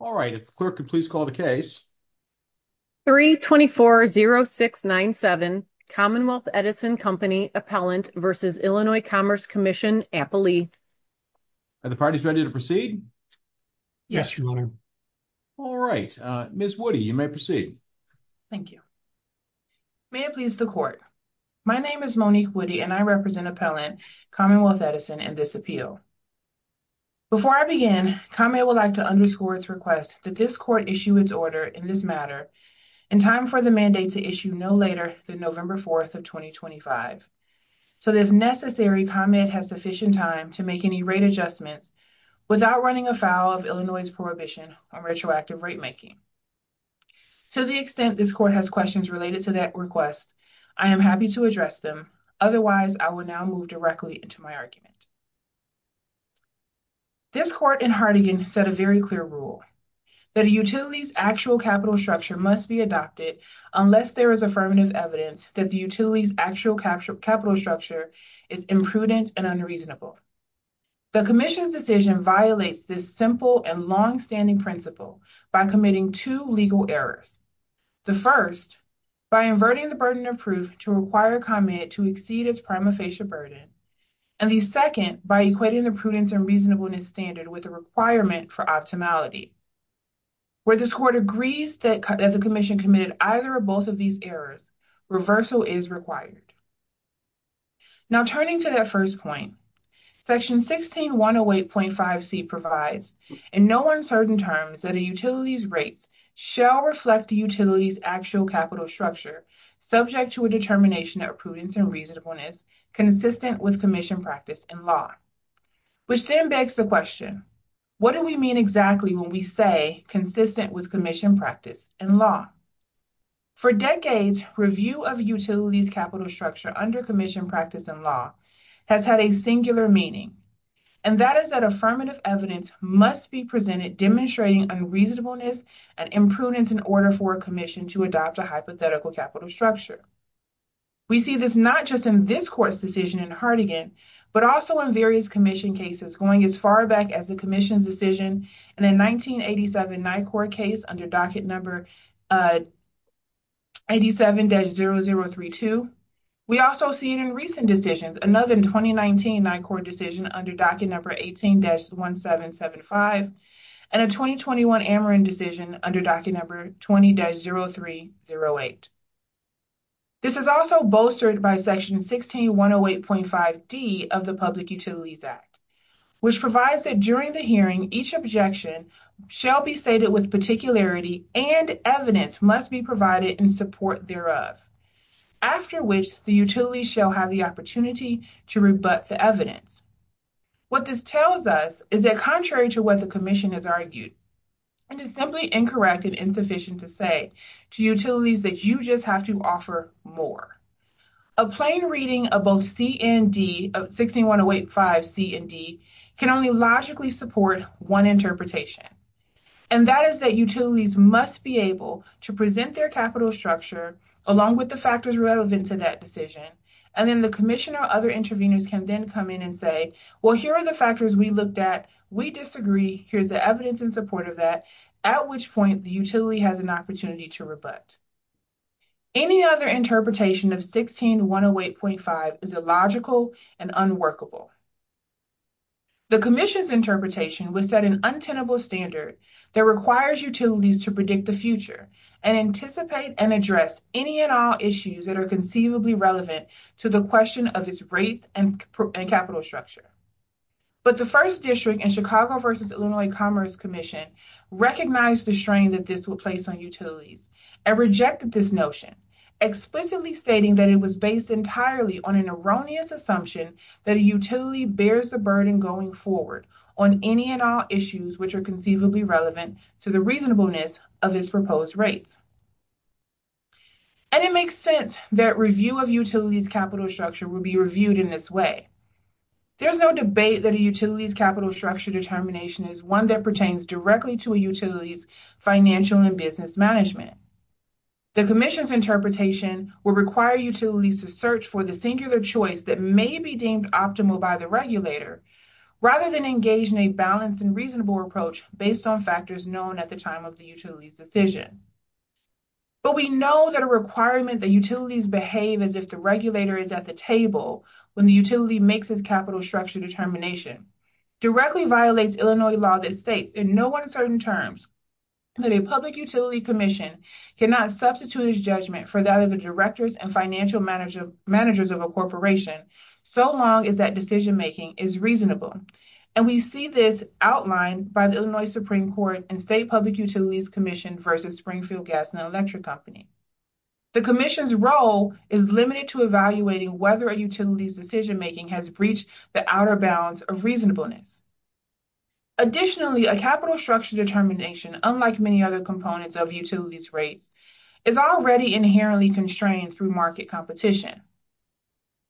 All right, if the clerk could please call the case. 3-24-0697 Commonwealth Edison Company Appellant v. Illinois Commerce Comm'n Appley. Are the parties ready to proceed? Yes, your honor. All right, Ms. Woody, you may proceed. Thank you. May it please the court. My name is Monique Woody and I represent Appellant Commonwealth Edison in this appeal. Before I begin, comment would like to underscore its request that this court issue its order in this matter in time for the mandate to issue no later than November 4th of 2025 so that if necessary, comment has sufficient time to make any rate adjustments without running afoul of Illinois' prohibition on retroactive rate making. To the extent this court has questions related to that request, I am happy to address them. Otherwise, I will now move directly into my argument. This court in Hartigan set a very clear rule that a utility's actual capital structure must be adopted unless there is affirmative evidence that the utility's actual capital structure is imprudent and unreasonable. The commission's decision violates this simple and long-standing principle by committing two legal errors. The first, by inverting the burden of proof to require comment to exceed its prima facie burden, and the second, by equating the prudence and reasonableness standard with the requirement for optimality. Where this court agrees that the commission committed either or both of these errors, reversal is required. Now, turning to that first point, section 16108.5c provides, in no uncertain terms, that a utility's rates shall reflect the utility's actual capital structure subject to a determination of prudence and reasonableness consistent with commission practice and law. Which then begs the question, what do we mean exactly when we say consistent with commission practice and law? For decades, review of a utility's capital structure under commission practice and law has had a singular meaning, and that is that affirmative evidence must be presented demonstrating unreasonableness and imprudence in order for a commission to adopt a hypothetical capital structure. We see this not just in this court's decision in Hartigan, but also in various commission cases going as far back as the commission's decision in a 1987 NICOR case under docket number 87-0032. We also see it in recent decisions, another 2019 NICOR decision under docket number 18-1775, and a 2021 Ameren decision under docket number 20-0308. This is also bolstered by section 16108.5d of the Public Utilities Act, which provides that during the hearing, each objection shall be stated with particularity and evidence must be provided in support thereof, after which the utility shall have the opportunity to rebut the evidence. What this tells us is that contrary to what the commission has argued, and it's simply incorrect and insufficient to say to utilities that you just have to offer more, a plain reading of both 16108.5c and d can only logically support one interpretation, and that is that utilities must be able to present their capital structure along with the factors relevant to that decision, and then the commission or other interveners can then come in and say, well, here are the factors we looked at, we disagree, here's the evidence in support of that, at which point the utility has an opportunity to rebut. Any other interpretation of 16108.5 is illogical and unworkable. The commission's interpretation would set an untenable standard that requires utilities to predict the future and anticipate and address any and all issues that are conceivably relevant to the question of its rates and capital structure. But the first district in Chicago versus Illinois Commerce Commission recognized the strain that this would place on utilities and rejected this notion, explicitly stating that it was based entirely on an erroneous assumption that a utility bears the burden going forward on any and all issues which are conceivably relevant to the reasonableness of its proposed rates. And it makes sense that review of utilities' capital structure would be reviewed in this way. There's no debate that a utility's capital structure determination is one that pertains directly to a utility's financial and business management. The commission's interpretation would require utilities to search for the singular choice that may be deemed optimal by the regulator rather than engage in a balanced and reasonable approach based on factors known at the time of the utility's decision. But we know that a requirement that utilities behave as if the regulator is at the table when the utility makes its capital structure determination directly violates Illinois law that states, in no uncertain terms, that a public utility commission cannot substitute its judgment for that of the directors and financial managers of a corporation so long as that decision making is reasonable. And we see this outlined by the Illinois Supreme Court and state public utilities commission versus Springfield Gas and Electric Company. The commission's role is limited to evaluating whether a utility's decision making has breached the outer bounds of reasonableness. Additionally, a capital structure determination, unlike many other components of utilities rates, is already inherently constrained through market competition.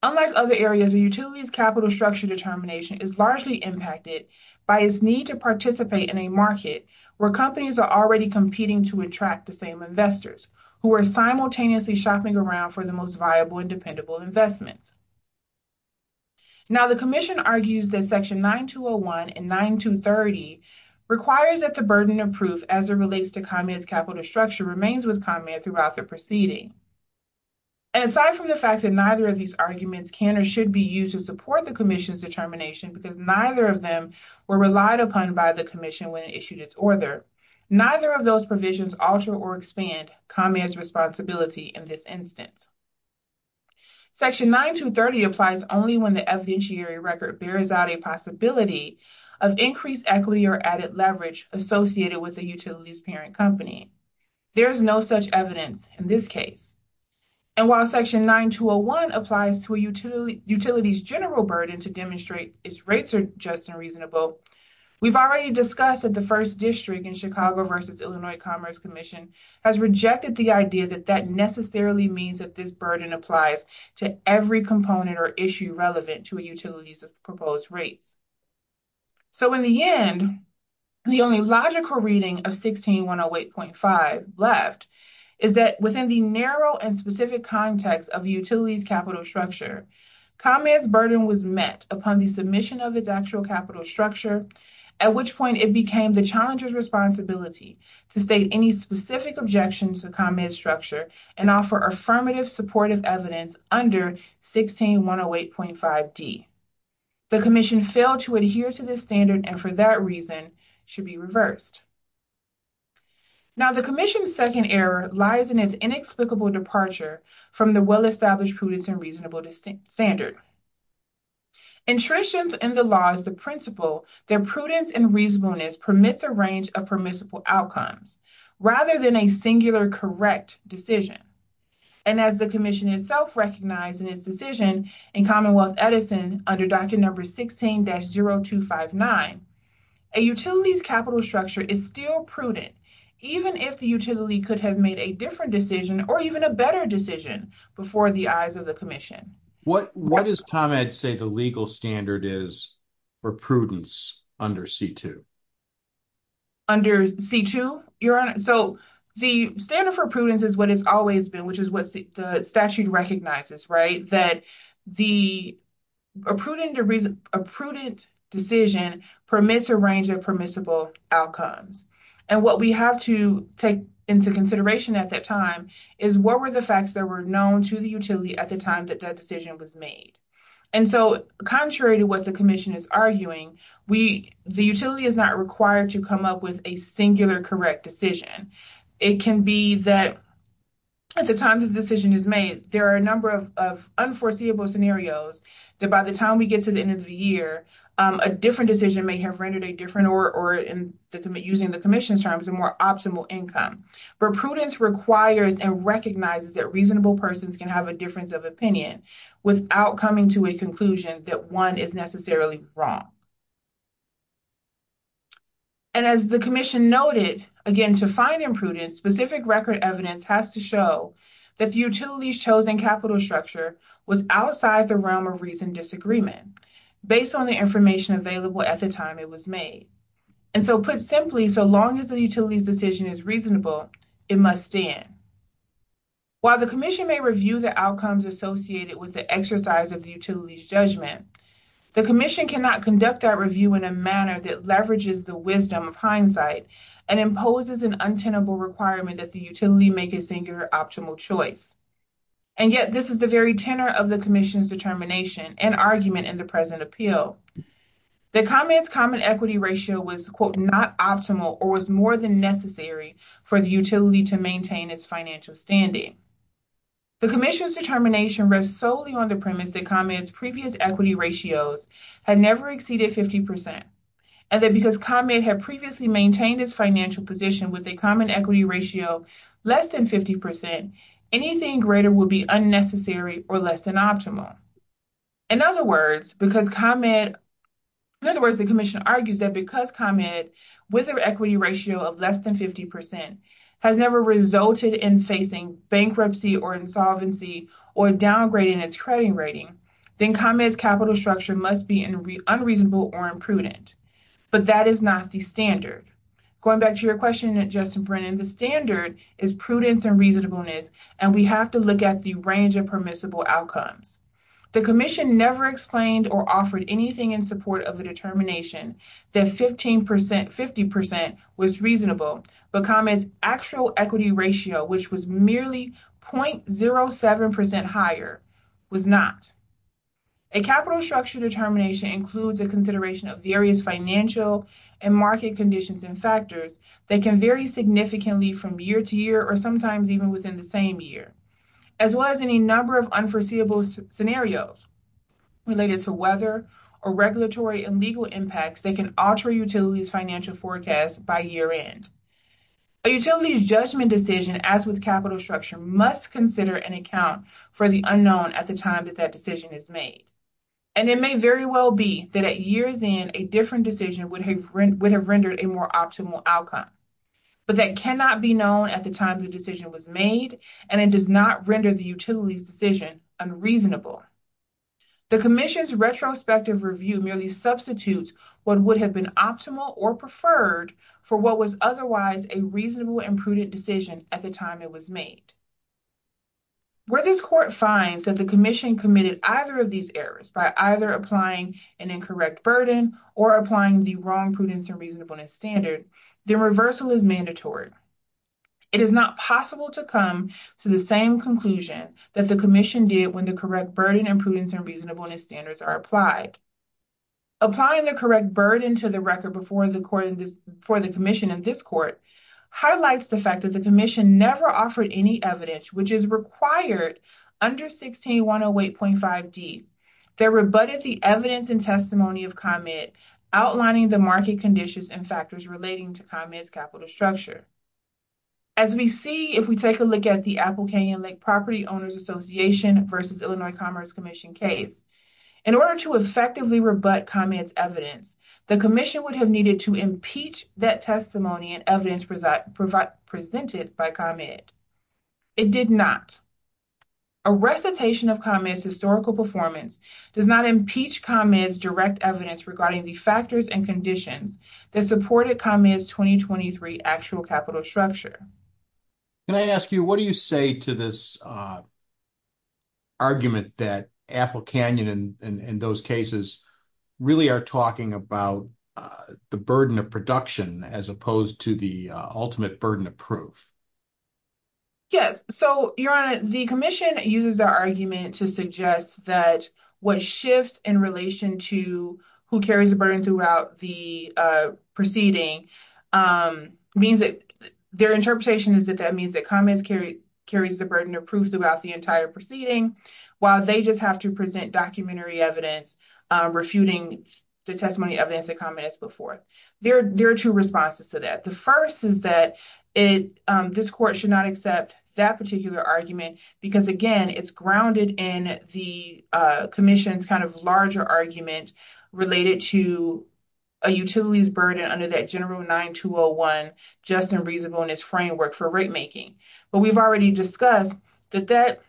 Unlike other areas, a utility's capital structure determination is largely impacted by its need to participate in a market where companies are already competing to attract the same investors who are simultaneously shopping around for the most viable and dependable investments. Now, the commission argues that section 9201 and 9230 requires that the burden of proof as it relates to ComEd's capital structure remains with ComEd throughout the proceeding. And aside from the fact that neither of these arguments can or should be used to support the commission's determination because neither of them were relied upon by the commission when it issued its order, neither of those provisions alter or expand ComEd's responsibility in this instance. Section 9230 applies only when the evidentiary record bears out a possibility of increased equity or added leverage associated with a utility's parent company. There is no such evidence in this case. And while section 9201 applies to a utility's general burden to demonstrate its rates are just and reasonable, we've already discussed that the first district in Chicago v. Illinois Commerce Commission has rejected the idea that that necessarily means that this burden applies to every component or issue relevant to a utility's proposed rates. So, in the end, the only logical reading of 16108.5 left is that within the narrow and specific context of a utility's capital structure, ComEd's burden was met upon the submission of its actual capital structure, at which point it became the challenger's responsibility to state any specific objections to ComEd's structure and offer affirmative supportive evidence under 16108.5d. The commission failed to adhere to this standard and for that reason should be reversed. Now, the commission's second error lies in its inexplicable departure from the well-established prudence and reasonable standard. Entrenched in the law as the principle, their prudence and reasonableness permits a range of outcomes rather than a singular correct decision. And as the commission itself recognized in its decision in Commonwealth Edison under docket number 16-0259, a utility's capital structure is still prudent even if the utility could have made a different decision or even a better decision before the eyes of the commission. What does ComEd say the legal standard is for prudence under C-2? Under C-2? Your Honor, so the standard for prudence is what it's always been, which is what the statute recognizes, right? That a prudent decision permits a range of permissible outcomes. And what we have to take into consideration at that time is what were the facts that were known to the utility at the time that that decision was made. And so contrary to the commission is arguing, the utility is not required to come up with a singular correct decision. It can be that at the time the decision is made, there are a number of unforeseeable scenarios that by the time we get to the end of the year, a different decision may have rendered a different or using the commission's terms, a more optimal income. But prudence requires and recognizes that reasonable persons can have a difference of opinion without coming to a conclusion that one is necessarily wrong. And as the commission noted, again, to find imprudence, specific record evidence has to show that the utility's chosen capital structure was outside the realm of reasoned disagreement based on the information available at the time it was made. And so put simply, so long as the utility's decision is reasonable, it must stand. While the commission may review the outcomes associated with the exercise of the utility's judgment, the commission cannot conduct that review in a manner that leverages the wisdom of hindsight and imposes an untenable requirement that the utility make a singular optimal choice. And yet this is the very tenor of the commission's determination and argument in the present appeal. The common equity ratio was, quote, not optimal or was more than necessary for the utility to maintain its financial standing. The commission's determination rests solely on the premise that ComEd's previous equity ratios had never exceeded 50 percent and that because ComEd had previously maintained its financial position with a common equity ratio less than 50 percent, anything greater would be unnecessary or less than optimal. In other words, because ComEd, in other words, the commission argues that because ComEd with their equity ratio of less than 50 percent has never resulted in facing bankruptcy or insolvency or downgrading its credit rating, then ComEd's capital structure must be unreasonable or imprudent. But that is not the standard. Going back to your question, Justin Brennan, the standard is prudence and reasonableness, and we have to look at the range of permissible outcomes. The commission never explained or offered anything in support of a determination that 15 percent, 50 percent was reasonable, but ComEd's actual equity ratio, which was merely 0.07 percent higher, was not. A capital structure determination includes a consideration of various financial and market conditions and factors that can vary significantly from year to year or sometimes even within the same year, as well as any number of unforeseeable scenarios related to weather or regulatory and legal impacts that can alter a utility's financial forecast by year end. A utility's judgment decision, as with capital structure, must consider an account for the unknown at the time that that decision is made, and it may very well be that at years in, a different decision would have rendered a more optimal outcome, but that cannot be known at the time the decision was made, and it does not render the utility's decision unreasonable. The commission's retrospective review merely substitutes what would have been optimal or preferred for what was otherwise a reasonable and prudent decision at the time it was made. Where this court finds that the commission committed either of these errors by either applying an incorrect burden or applying the wrong prudence and reasonableness standard, the reversal is mandatory. It is not possible to come to the same conclusion that the commission did when the correct burden and prudence and reasonableness standards are applied. Applying the correct burden to the record before the commission in this court highlights the fact that the commission never offered any evidence which is required under 16108.5d that rebutted the evidence and testimony of comment outlining the market conditions and factors relating to ComEd's capital structure. As we see if we take a look at the Apple Canyon Lake Property Owners Association v. Illinois Commerce Commission case, in order to effectively rebut ComEd's evidence, the commission would have needed to impeach that testimony and evidence presented by ComEd. It did not. A recitation of ComEd's historical performance does not impeach ComEd's direct evidence regarding the factors and conditions that supported ComEd's 2023 actual capital structure. Can I ask you, what do you say to this argument that Apple Canyon and those cases really are talking about the burden of production as opposed to the ultimate burden of proof? Yes, so your honor, the commission uses our to suggest that what shifts in relation to who carries the burden throughout the proceeding means that their interpretation is that that means that ComEd carries the burden of proof throughout the entire proceeding, while they just have to present documentary evidence refuting the testimony evidence that ComEd has put forth. There are two responses to that. The first is that this court should not accept that particular argument because, again, it's grounded in the commission's kind of larger argument related to a utility's burden under that general 9201 just and reasonable in its framework for rate making. But we've already discussed that that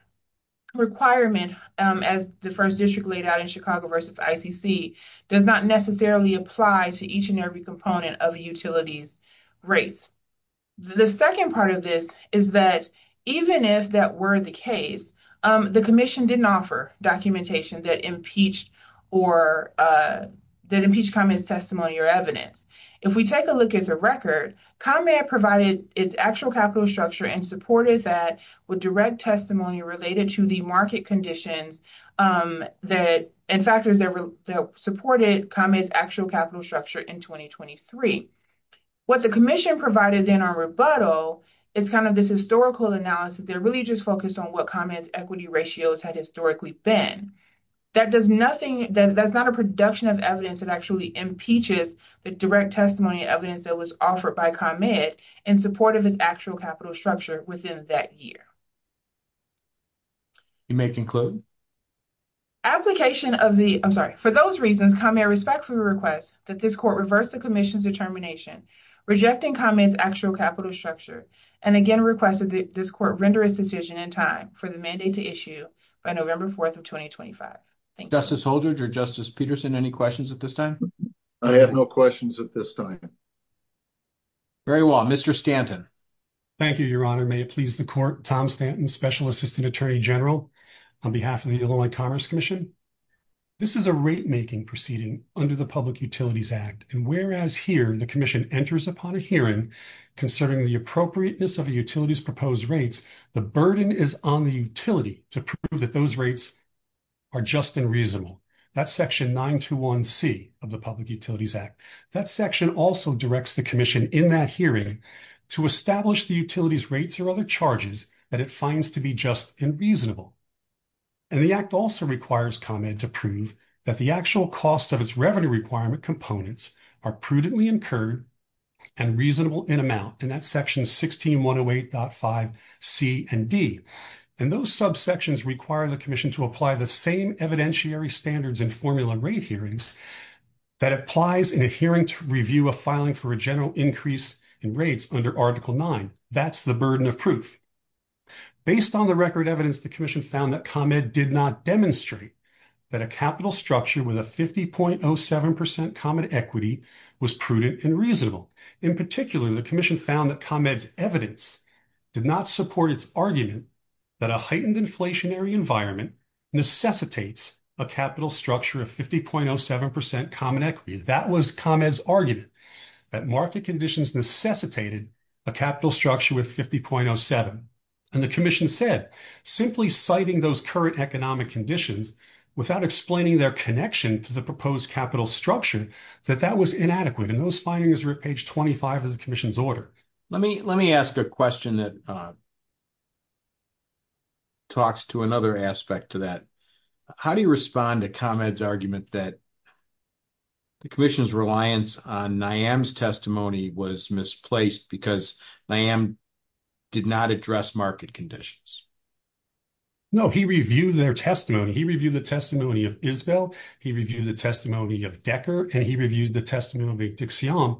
requirement, as the first district laid out in Chicago versus ICC, does not necessarily apply to each and every component of a utility's rates. The second part of this is that even if that were the case, the commission didn't offer documentation that impeached ComEd's testimony or evidence. If we take a look at the record, ComEd provided its actual capital structure and supported that with direct testimony related to the market conditions and factors that supported ComEd's actual capital structure in 2023. What the commission provided then on rebuttal is kind of this historical analysis. They're really just focused on what ComEd's equity ratios had historically been. That does nothing, that's not a production of evidence that actually impeaches the direct testimony evidence that was offered by ComEd in support of its actual capital structure within that year. You may conclude. Application of the, I'm sorry, for those reasons ComEd respectfully requests that this court reverse the commission's determination rejecting ComEd's actual capital structure and again requested that this court render its decision in time for the mandate to issue by November 4th of 2025. Thank you. Justice Holdred or Justice Peterson, any questions at this time? I have no questions at this time. Very well. Mr. Stanton. Thank you, your honor. May it please the court. Tom Stanton, Special Assistant Attorney General on behalf of Illinois Commerce Commission. This is a rate making proceeding under the Public Utilities Act and whereas here the commission enters upon a hearing concerning the appropriateness of a utility's proposed rates, the burden is on the utility to prove that those rates are just and reasonable. That's section 921c of the Public Utilities Act. That section also directs the commission in that hearing to establish the utility's rates or other charges that it finds to be just and reasonable. And the act also requires ComEd to prove that the actual cost of its revenue requirement components are prudently incurred and reasonable in amount and that's sections 16108.5c and d. And those subsections require the commission to apply the same evidentiary standards in formula rate hearings that applies in a hearing to review a filing for general increase in rates under article 9. That's the burden of proof. Based on the record evidence, the commission found that ComEd did not demonstrate that a capital structure with a 50.07% common equity was prudent and reasonable. In particular, the commission found that ComEd's evidence did not support its argument that a heightened inflationary environment necessitates a capital structure of 50.07% common equity. That was ComEd's argument, that market conditions necessitated a capital structure with 50.07. And the commission said, simply citing those current economic conditions without explaining their connection to the proposed capital structure, that that was inadequate. And those findings are at page 25 of the commission's order. Let me ask a question that talks to another aspect to that. How do you respond to ComEd's argument that the commission's reliance on NIAM's testimony was misplaced because NIAM did not address market conditions? No, he reviewed their testimony. He reviewed the testimony of Isbel, he reviewed the testimony of Decker, and he reviewed the testimony of Dixion.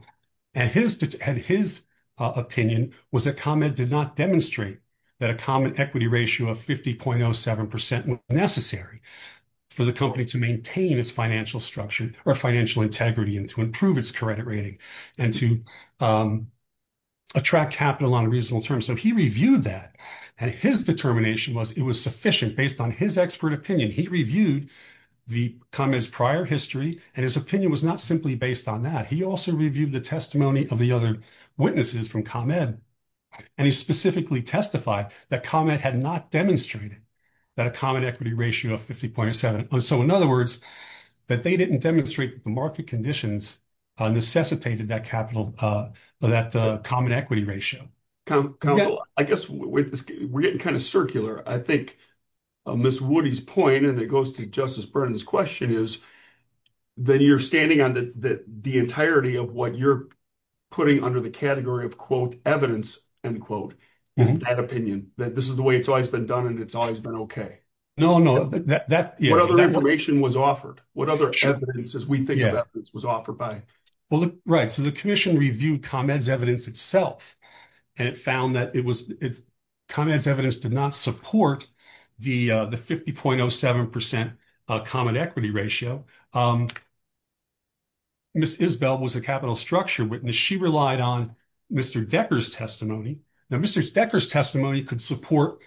And his opinion was that ComEd did not demonstrate that a common equity ratio of 50.07% was necessary for the company to maintain its financial structure or financial integrity and to improve its credit rating and to attract capital on a reasonable term. So he reviewed that. And his determination was it was sufficient based on his expert opinion. He reviewed the ComEd's prior history, and his opinion was not simply based on that. He also reviewed the testimony of the other witnesses from ComEd, and he specifically testified that ComEd had not demonstrated that a common equity ratio of 50.07%. So in other words, that they didn't demonstrate the market conditions necessitated that common equity ratio. Counsel, I guess we're getting kind of circular. I think Ms. Woody's point, and it goes to Justice Burnham's question, is that you're standing on the entirety of what you're putting under the category of, quote, evidence, end quote, is that opinion, that this is the way it's always been done and it's always been okay. No, no. What other information was offered? What other evidence, as we think of evidence, was offered by... Well, right. So the commission reviewed ComEd's itself, and it found that ComEd's evidence did not support the 50.07% common equity ratio. Ms. Isbell was a capital structure witness. She relied on Mr. Decker's testimony. Now, Mr. Decker's testimony could support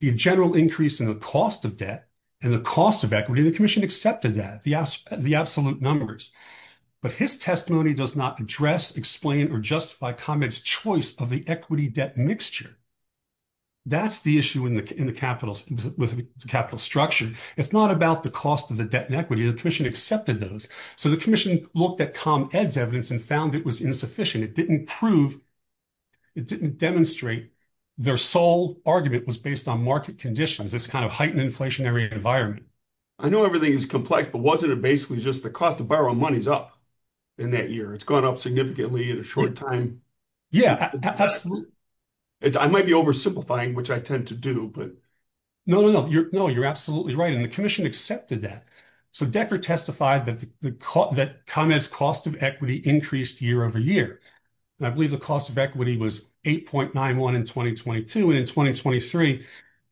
the general increase in the cost of debt and the cost of equity. The commission accepted that, the absolute numbers. But his testimony does not address, explain, or justify ComEd's choice of the equity debt mixture. That's the issue with the capital structure. It's not about the cost of the debt and equity. The commission accepted those. So the commission looked at ComEd's evidence and found it was insufficient. It didn't prove, it didn't demonstrate their sole argument was based on market conditions, this kind of heightened inflationary environment. I know everything is complex, but wasn't it just the cost of borrowing money's up in that year? It's gone up significantly in a short time? Yeah, absolutely. I might be oversimplifying, which I tend to do, but... No, no, no. You're absolutely right. And the commission accepted that. So Decker testified that ComEd's cost of equity increased year over year. And I believe the cost of equity was 8.91 in 2022. And in 2023,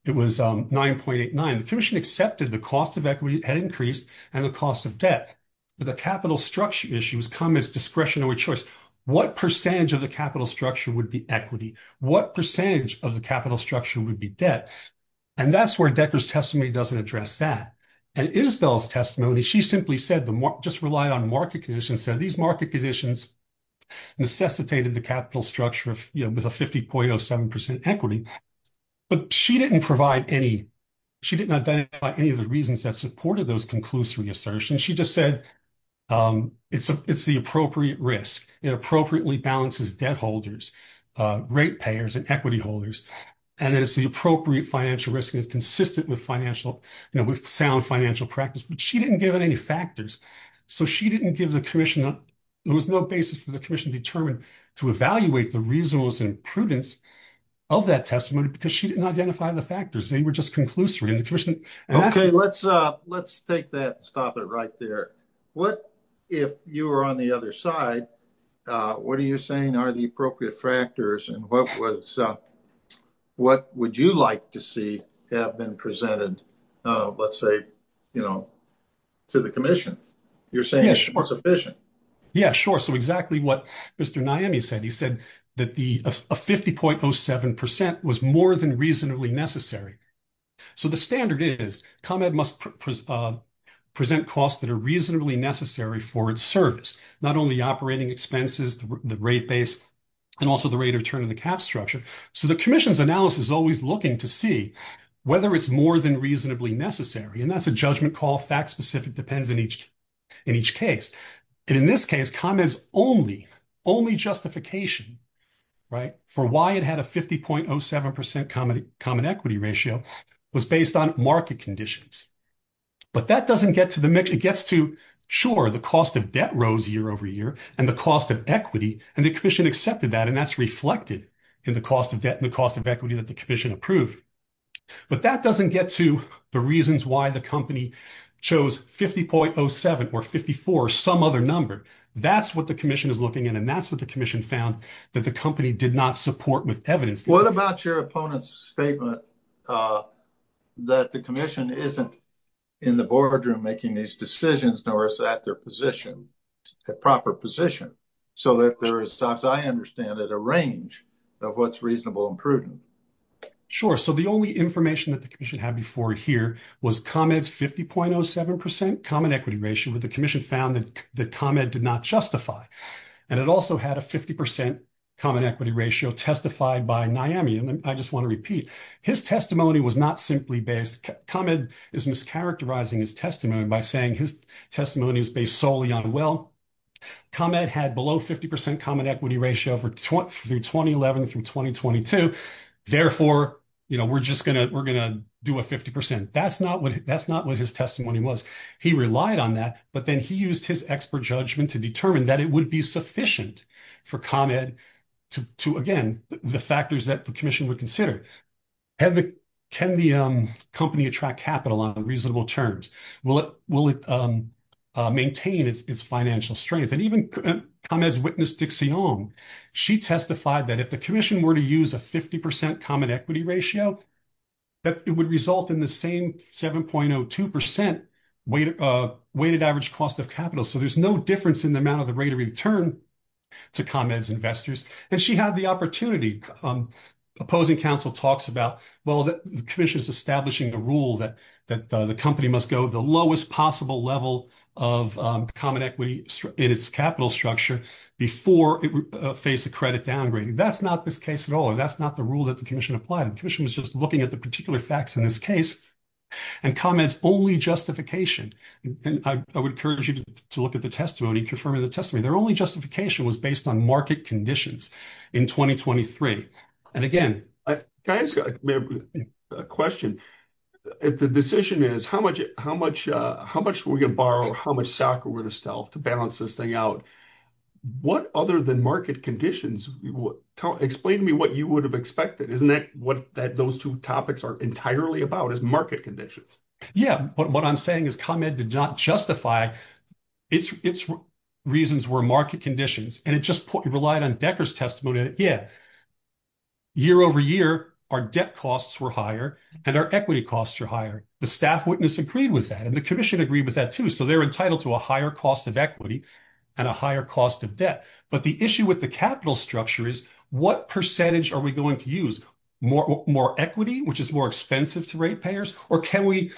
it was 9.89. The commission accepted the cost of equity had increased and the capital structure issue was ComEd's discretionary choice. What percentage of the capital structure would be equity? What percentage of the capital structure would be debt? And that's where Decker's testimony doesn't address that. And Isbell's testimony, she simply said, just relied on market conditions, said these market conditions necessitated the capital structure with a 50.07% equity. But she didn't provide any, she didn't identify any of the reasons that supported those conclusory assertions. She just said, it's the appropriate risk. It appropriately balances debt holders, rate payers, and equity holders. And that it's the appropriate financial risk and it's consistent with financial, you know, with sound financial practice. But she didn't give out any factors. So she didn't give the commission, there was no basis for the commission determined to evaluate the reasonableness and prudence of that testimony because she didn't identify the factors. They were just conclusory. And the commission- Okay, let's take that and stop it right there. What if you were on the other side, what are you saying are the appropriate factors and what would you like to see have been presented, let's say, you know, to the commission? You're saying it's sufficient. Yeah, sure. So exactly what Mr. Naimi said. He said that a 50.07% was more than reasonably necessary. So the standard is, ComEd must present costs that are reasonably necessary for its service, not only operating expenses, the rate base, and also the rate of return of the cap structure. So the commission's analysis is always looking to see whether it's more than reasonably necessary. And that's a judgment call, fact specific, depends in each case. And in this case, ComEd's only justification for why it had a 50.07% common equity ratio was based on market conditions. But that doesn't get to the mix. It gets to, sure, the cost of debt rose year over year and the cost of equity, and the commission accepted that. And that's reflected in the cost of debt and the cost of equity that the commission approved. But that doesn't get to the reasons why the company chose 50.07 or 54 or some other number. That's what the commission is looking at. And that's what the commission found that the company did not support with evidence. What about your opponent's statement that the commission isn't in the boardroom making these decisions, nor is that their position, a proper position? So that there is, as I understand it, a range of what's reasonable and prudent. Sure. So the only information that the commission had here was ComEd's 50.07% common equity ratio, but the commission found that the ComEd did not justify. And it also had a 50% common equity ratio testified by NIAMI. And I just want to repeat, his testimony was not simply based. ComEd is mischaracterizing his testimony by saying his testimony is based solely on, well, ComEd had below 50% common equity ratio through 2011 through 2022. Therefore, we're just going to do a 50%. That's not what his testimony was. He relied on that, but then he used his expert judgment to determine that it would be sufficient for ComEd to, again, the factors that the commission would consider. Can the company attract capital on reasonable terms? Will it maintain its financial strength? And even ComEd's witness, Dixie Ong, she testified that if the commission were to use a 50% common equity ratio, that it would result in the same 7.02% weighted average cost of capital. So there's no difference in the amount of the rate of return to ComEd's investors. And she had the opportunity. Opposing counsel talks about, well, the commission is establishing a rule that the company must go the lowest possible level of common equity in its capital structure before it would face a credit downgrade. That's not this case at all. That's not the rule that the commission applied. The commission was just looking at the particular facts in this case and ComEd's only justification, and I would encourage you to look at the testimony, confirming the testimony. Their only justification was based on market conditions in 2023. And again, can I ask a question? If the decision is how much we're going to borrow, how much stock are we going to sell to balance this thing out? What other than market conditions, explain to me what you would have expected. Isn't that what those two topics are entirely about, is market conditions? Yeah, but what I'm saying is ComEd did not justify its reasons were market conditions, and it just relied on Decker's testimony. Yeah, year over year, our debt costs were higher and our equity costs are higher. The staff witness agreed with that and the commission agreed with that too. So they're entitled to a higher cost of equity and a higher cost of debt. But the issue with the capital structure is what percentage are we going to use? More equity, which is more expensive to rate payers, or can we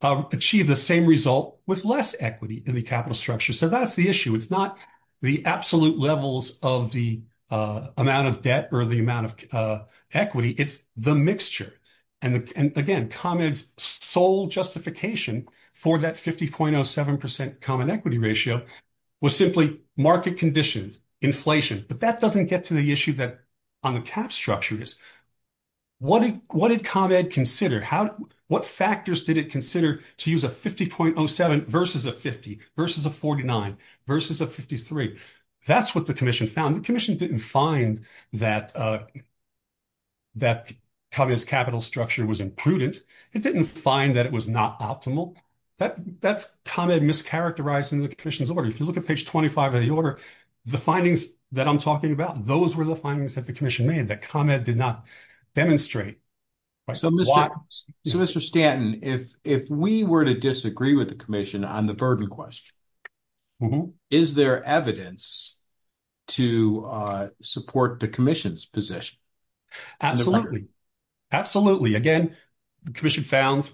achieve the same result with less equity in the capital structure? So that's the issue. It's not the absolute levels of the amount of debt or the amount of equity, it's the mixture. And again, ComEd's sole justification for that 50.07% common equity ratio was simply market conditions, inflation. But that doesn't get to the issue that on the cap structure is what did ComEd consider? What factors did it consider to use a 50.07% versus a 50% versus a 49% versus a 53%? That's what the commission found. The commission didn't find that ComEd's capital structure was imprudent. It didn't find that it was not optimal. That's ComEd mischaracterizing the commission's order. If you look at page 25 of the order, the findings that I'm talking about, those were the findings that the commission made that ComEd did not demonstrate. So, Mr. Stanton, if we were to disagree with the commission on the burden question, is there evidence to support the commission's position? Absolutely. Absolutely. Again, the commission found,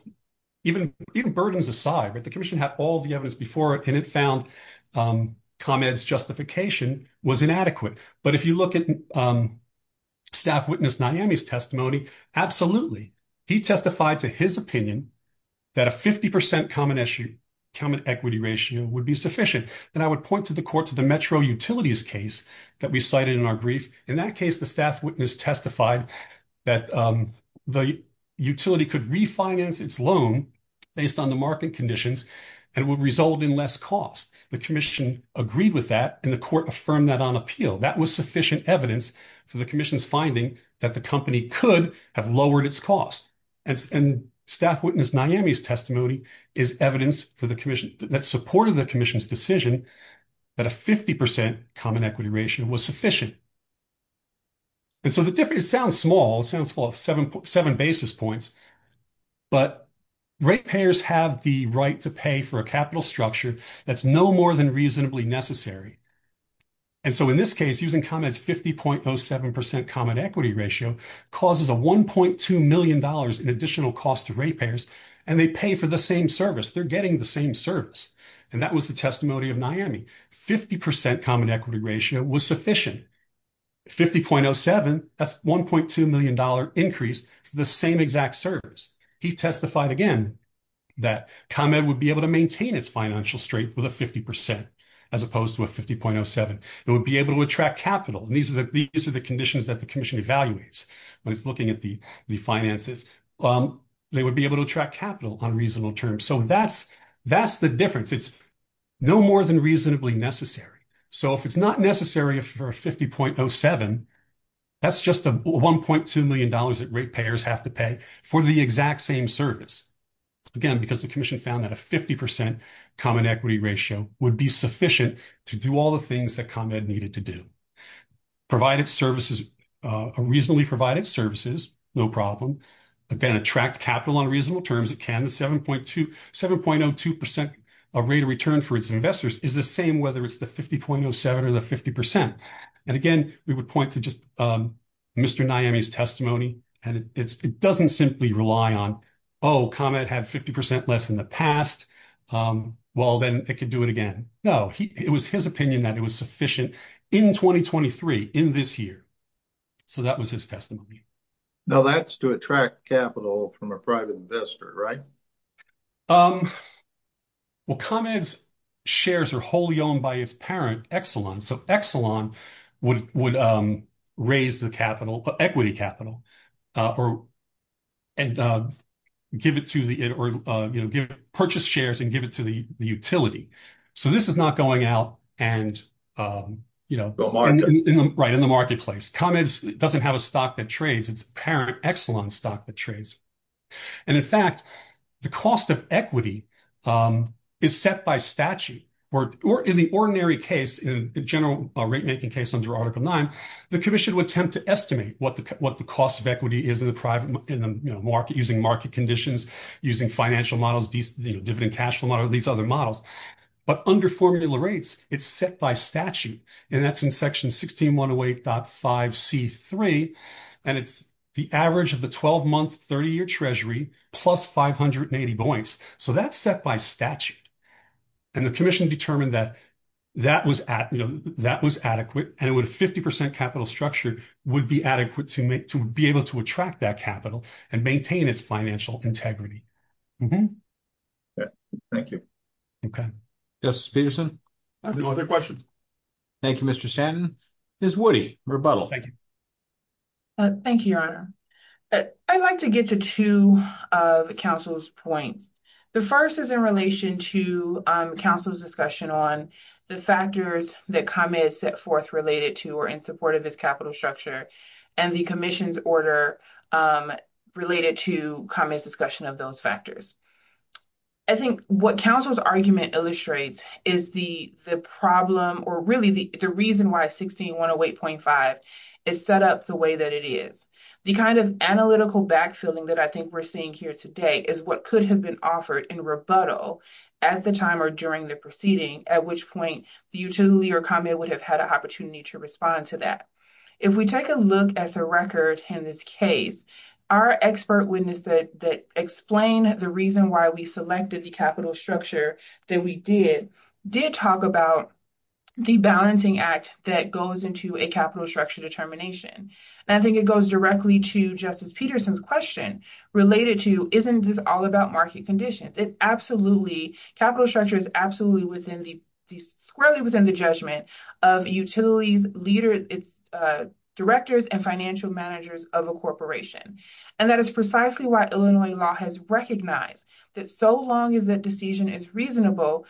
even burdens aside, the commission had all the evidence before it and it found ComEd's justification was inadequate. But if you look at staff witness Naomi's testimony, absolutely. He testified to his opinion that a 50% common equity ratio would be sufficient. And I would point to the court, to the Metro Utilities case that we cited in our brief. In that case, the staff witness testified that the utility could refinance its loan based on the market conditions and would result in less cost. The commission agreed with that and the court affirmed that on appeal. That was sufficient evidence for the commission's finding that the company could have lowered its cost. And staff witness Naomi's testimony is evidence for the commission that supported the commission's decision that a 50% common equity ratio was sufficient. And so the difference, it sounds small, it sounds full of seven basis points, but rate payers have the right to pay for a capital structure that's no more than reasonably necessary. And so in this case, using ComEd's 50.07% common equity ratio causes a $1.2 million in additional cost to rate payers, and they pay for the same service. They're getting the same service. And that was the testimony of Naomi. 50% common equity ratio was sufficient. 50.07, that's $1.2 million increase for the same exact service. He testified again that ComEd would be able to maintain its financial strength with a 50% as opposed to a 50.07. It would be able to attract capital. And these are the conditions that the commission evaluates when it's looking at the finances. They would be able to attract capital on reasonable terms. So that's the difference. It's no more than reasonably necessary. So if it's not necessary for a 50.07, that's just a $1.2 million that rate payers have to pay for the exact same service. Again, because the commission found that a 50% common equity ratio would be sufficient to do all the things that ComEd needed to do. Provided services, reasonably provided services, no problem. Again, attract capital on reasonable terms, it can. The 7.02% rate of return for its investors is the same whether it's the 50.07 or the 50%. And again, we would point to Mr. Naomi's testimony. And it doesn't simply rely on, oh, ComEd had 50% less in the past. Well, then it could do it again. No, it was his opinion that it was sufficient in 2023, in this year. So that was his testimony. Now that's to attract capital from a private investor, right? Well, ComEd's shares are wholly owned by its parent, Exelon. So Exelon would raise the capital, equity capital, and purchase shares and give it to the utility. So this is not going out and- Right, in the marketplace. ComEd doesn't have a stock that trades, its parent, Exelon stock that trades. And in fact, the cost of equity is set by statute. Or in the ordinary case, in the general rate-making case under Article 9, the commission would attempt to estimate what the cost of equity is in the market using market conditions, using financial models, dividend cash flow model, these other models. But under formula rates, it's set by statute. And that's in Section 16108.5C3. And it's the average of the 12-month, 30-year treasury plus 580 buoys. So that's set by statute. And the commission determined that that was adequate, and a 50% capital structure would be adequate to be able to attract that capital and maintain its integrity. Thank you. Okay. Justice Peterson? No other questions. Thank you, Mr. Stanton. Ms. Woody, rebuttal. Thank you, Your Honor. I'd like to get to two of the Council's points. The first is in relation to Council's discussion on the factors that ComEd set forth related to or in support of its capital structure, and the commission's order related to ComEd's discussion of those factors. I think what Council's argument illustrates is the problem, or really the reason why 16108.5 is set up the way that it is. The kind of analytical backfielding that I think we're seeing here today is what could have been offered in rebuttal at the time or during the proceeding, at which point the utility or ComEd would have had an opportunity to respond to that. If we take a look at the record in this case, our expert witness that explained the reason why we selected the capital structure that we did, did talk about the balancing act that goes into a capital structure determination. And I think it goes directly to Justice Peterson's question related to isn't this all about market conditions? It absolutely, capital structure is absolutely squarely within the judgment of a utility's leaders, its directors and financial managers of a corporation. And that is precisely why Illinois law has recognized that so long as that decision is reasonable,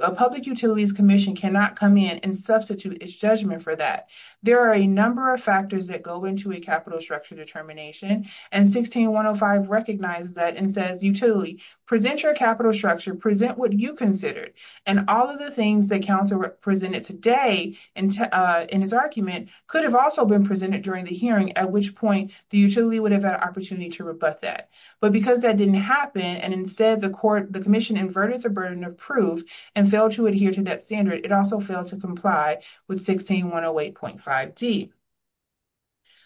a public utilities commission cannot come in and substitute its judgment for that. There are a number of factors that go into a capital structure determination, and 16105 recognizes that and says, utility, present your capital structure, present what you considered. And all of the things that counsel presented today in his argument could have also been presented during the hearing, at which point the utility would have had an opportunity to rebut that. But because that didn't happen, and instead the commission inverted the burden of proof and failed to adhere to that standard, it also failed to comply with 16108.5D.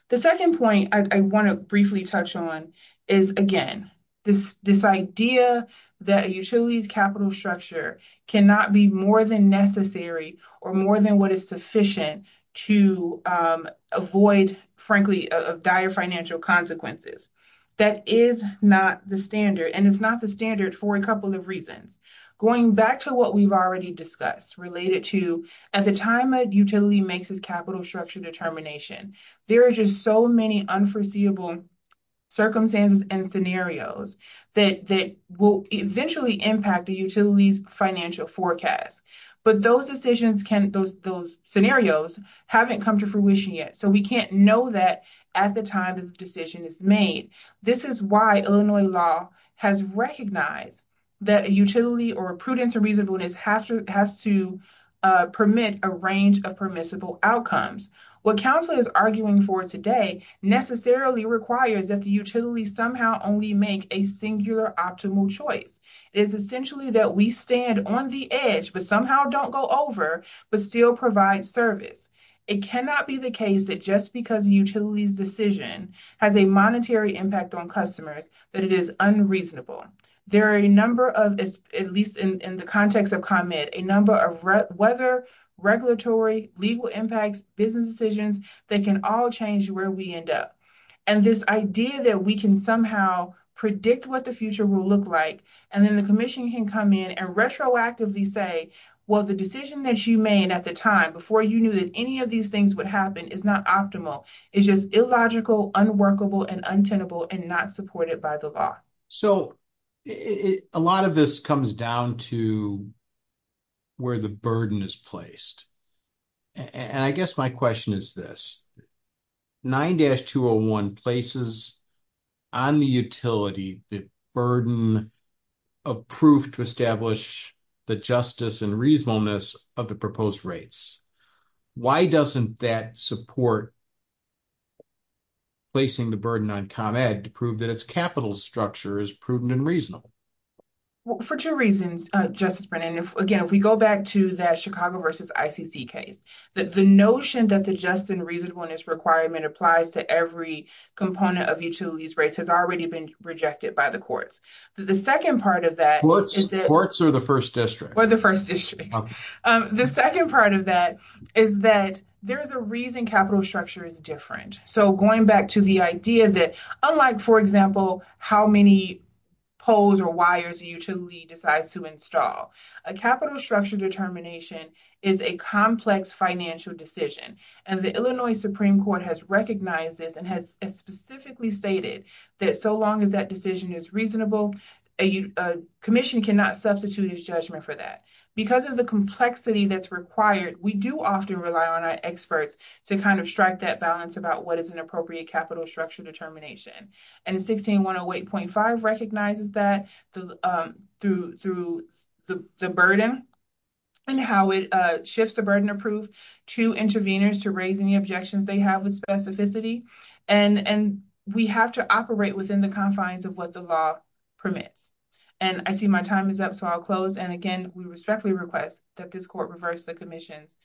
The second point I want to briefly touch on is, again, this idea that a utility's capital structure cannot be more than necessary or more than what is sufficient to avoid, frankly, dire financial consequences. That is not the standard, and it's not the standard for a couple of reasons. Going back to what we've already discussed related to at the time a utility makes its capital structure determination, there are just so many unforeseeable circumstances and scenarios that will eventually impact a utility's financial forecast. But those decisions can, those scenarios haven't come to fruition yet, so we can't know that at the time this decision is made. This is why Illinois law has recognized that a utility or a prudence or reasonableness has to permit a range of permissible outcomes. What council is arguing for today necessarily requires that the utility somehow only make a singular optimal choice. It is essentially that we stand on the edge, but somehow don't go over, but still provide service. It cannot be the case that just because a utility's decision has a monetary impact on customers that it is unreasonable. There are a number of, at least in the context of ComEd, a number of weather, regulatory, legal impacts, business decisions that can all change where we end up. And this idea that we can somehow predict what the future will look like, and then the commission can come in and retroactively say, well, the decision that you made at the time before you knew that any of these things would happen is not optimal. It's just illogical, unworkable, and untenable, and not supported by the law. So, a lot of this comes down to where the burden is placed. And I guess my question is this. 9-201 places on the utility the burden of proof to establish the justice and reasonableness of the proposed rates. Why doesn't that support placing the burden on ComEd to prove that its capital structure is prudent and reasonable? For two reasons, Justice Brennan. Again, if we go back to that Chicago versus ICC case, that the notion that the justice and reasonableness requirement applies to every component of utilities rates has already been rejected by the courts. The second part of that- Courts or the first district? Or the first district. The second part of that is that there's a reason capital structure is different. So, going back to the idea that unlike, for example, how many poles or wires a utility decides to install, a capital structure determination is a complex financial decision. And the Illinois Supreme Court has recognized this and has specifically stated that so long as that decision is reasonable, a commission cannot substitute its judgment for that. Because of complexity that's required, we do often rely on our experts to kind of strike that balance about what is an appropriate capital structure determination. And 16-108.5 recognizes that through the burden and how it shifts the burden of proof to interveners to raise any objections they have with specificity. And we have to operate within the confines of what the law permits. And I see my time is up, so I'll close. And again, we respectfully request that this court reverse the commission's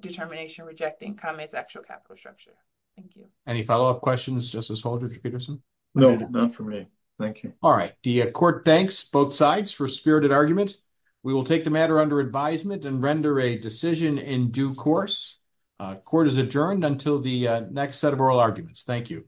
determination rejecting ComEd's actual capital structure. Thank you. Any follow-up questions, Justice Holder, Mr. Peterson? No, not for me. Thank you. All right. The court thanks both sides for spirited arguments. We will take the matter under advisement and render a decision in due course. Court is adjourned until the next set of oral arguments. Thank you.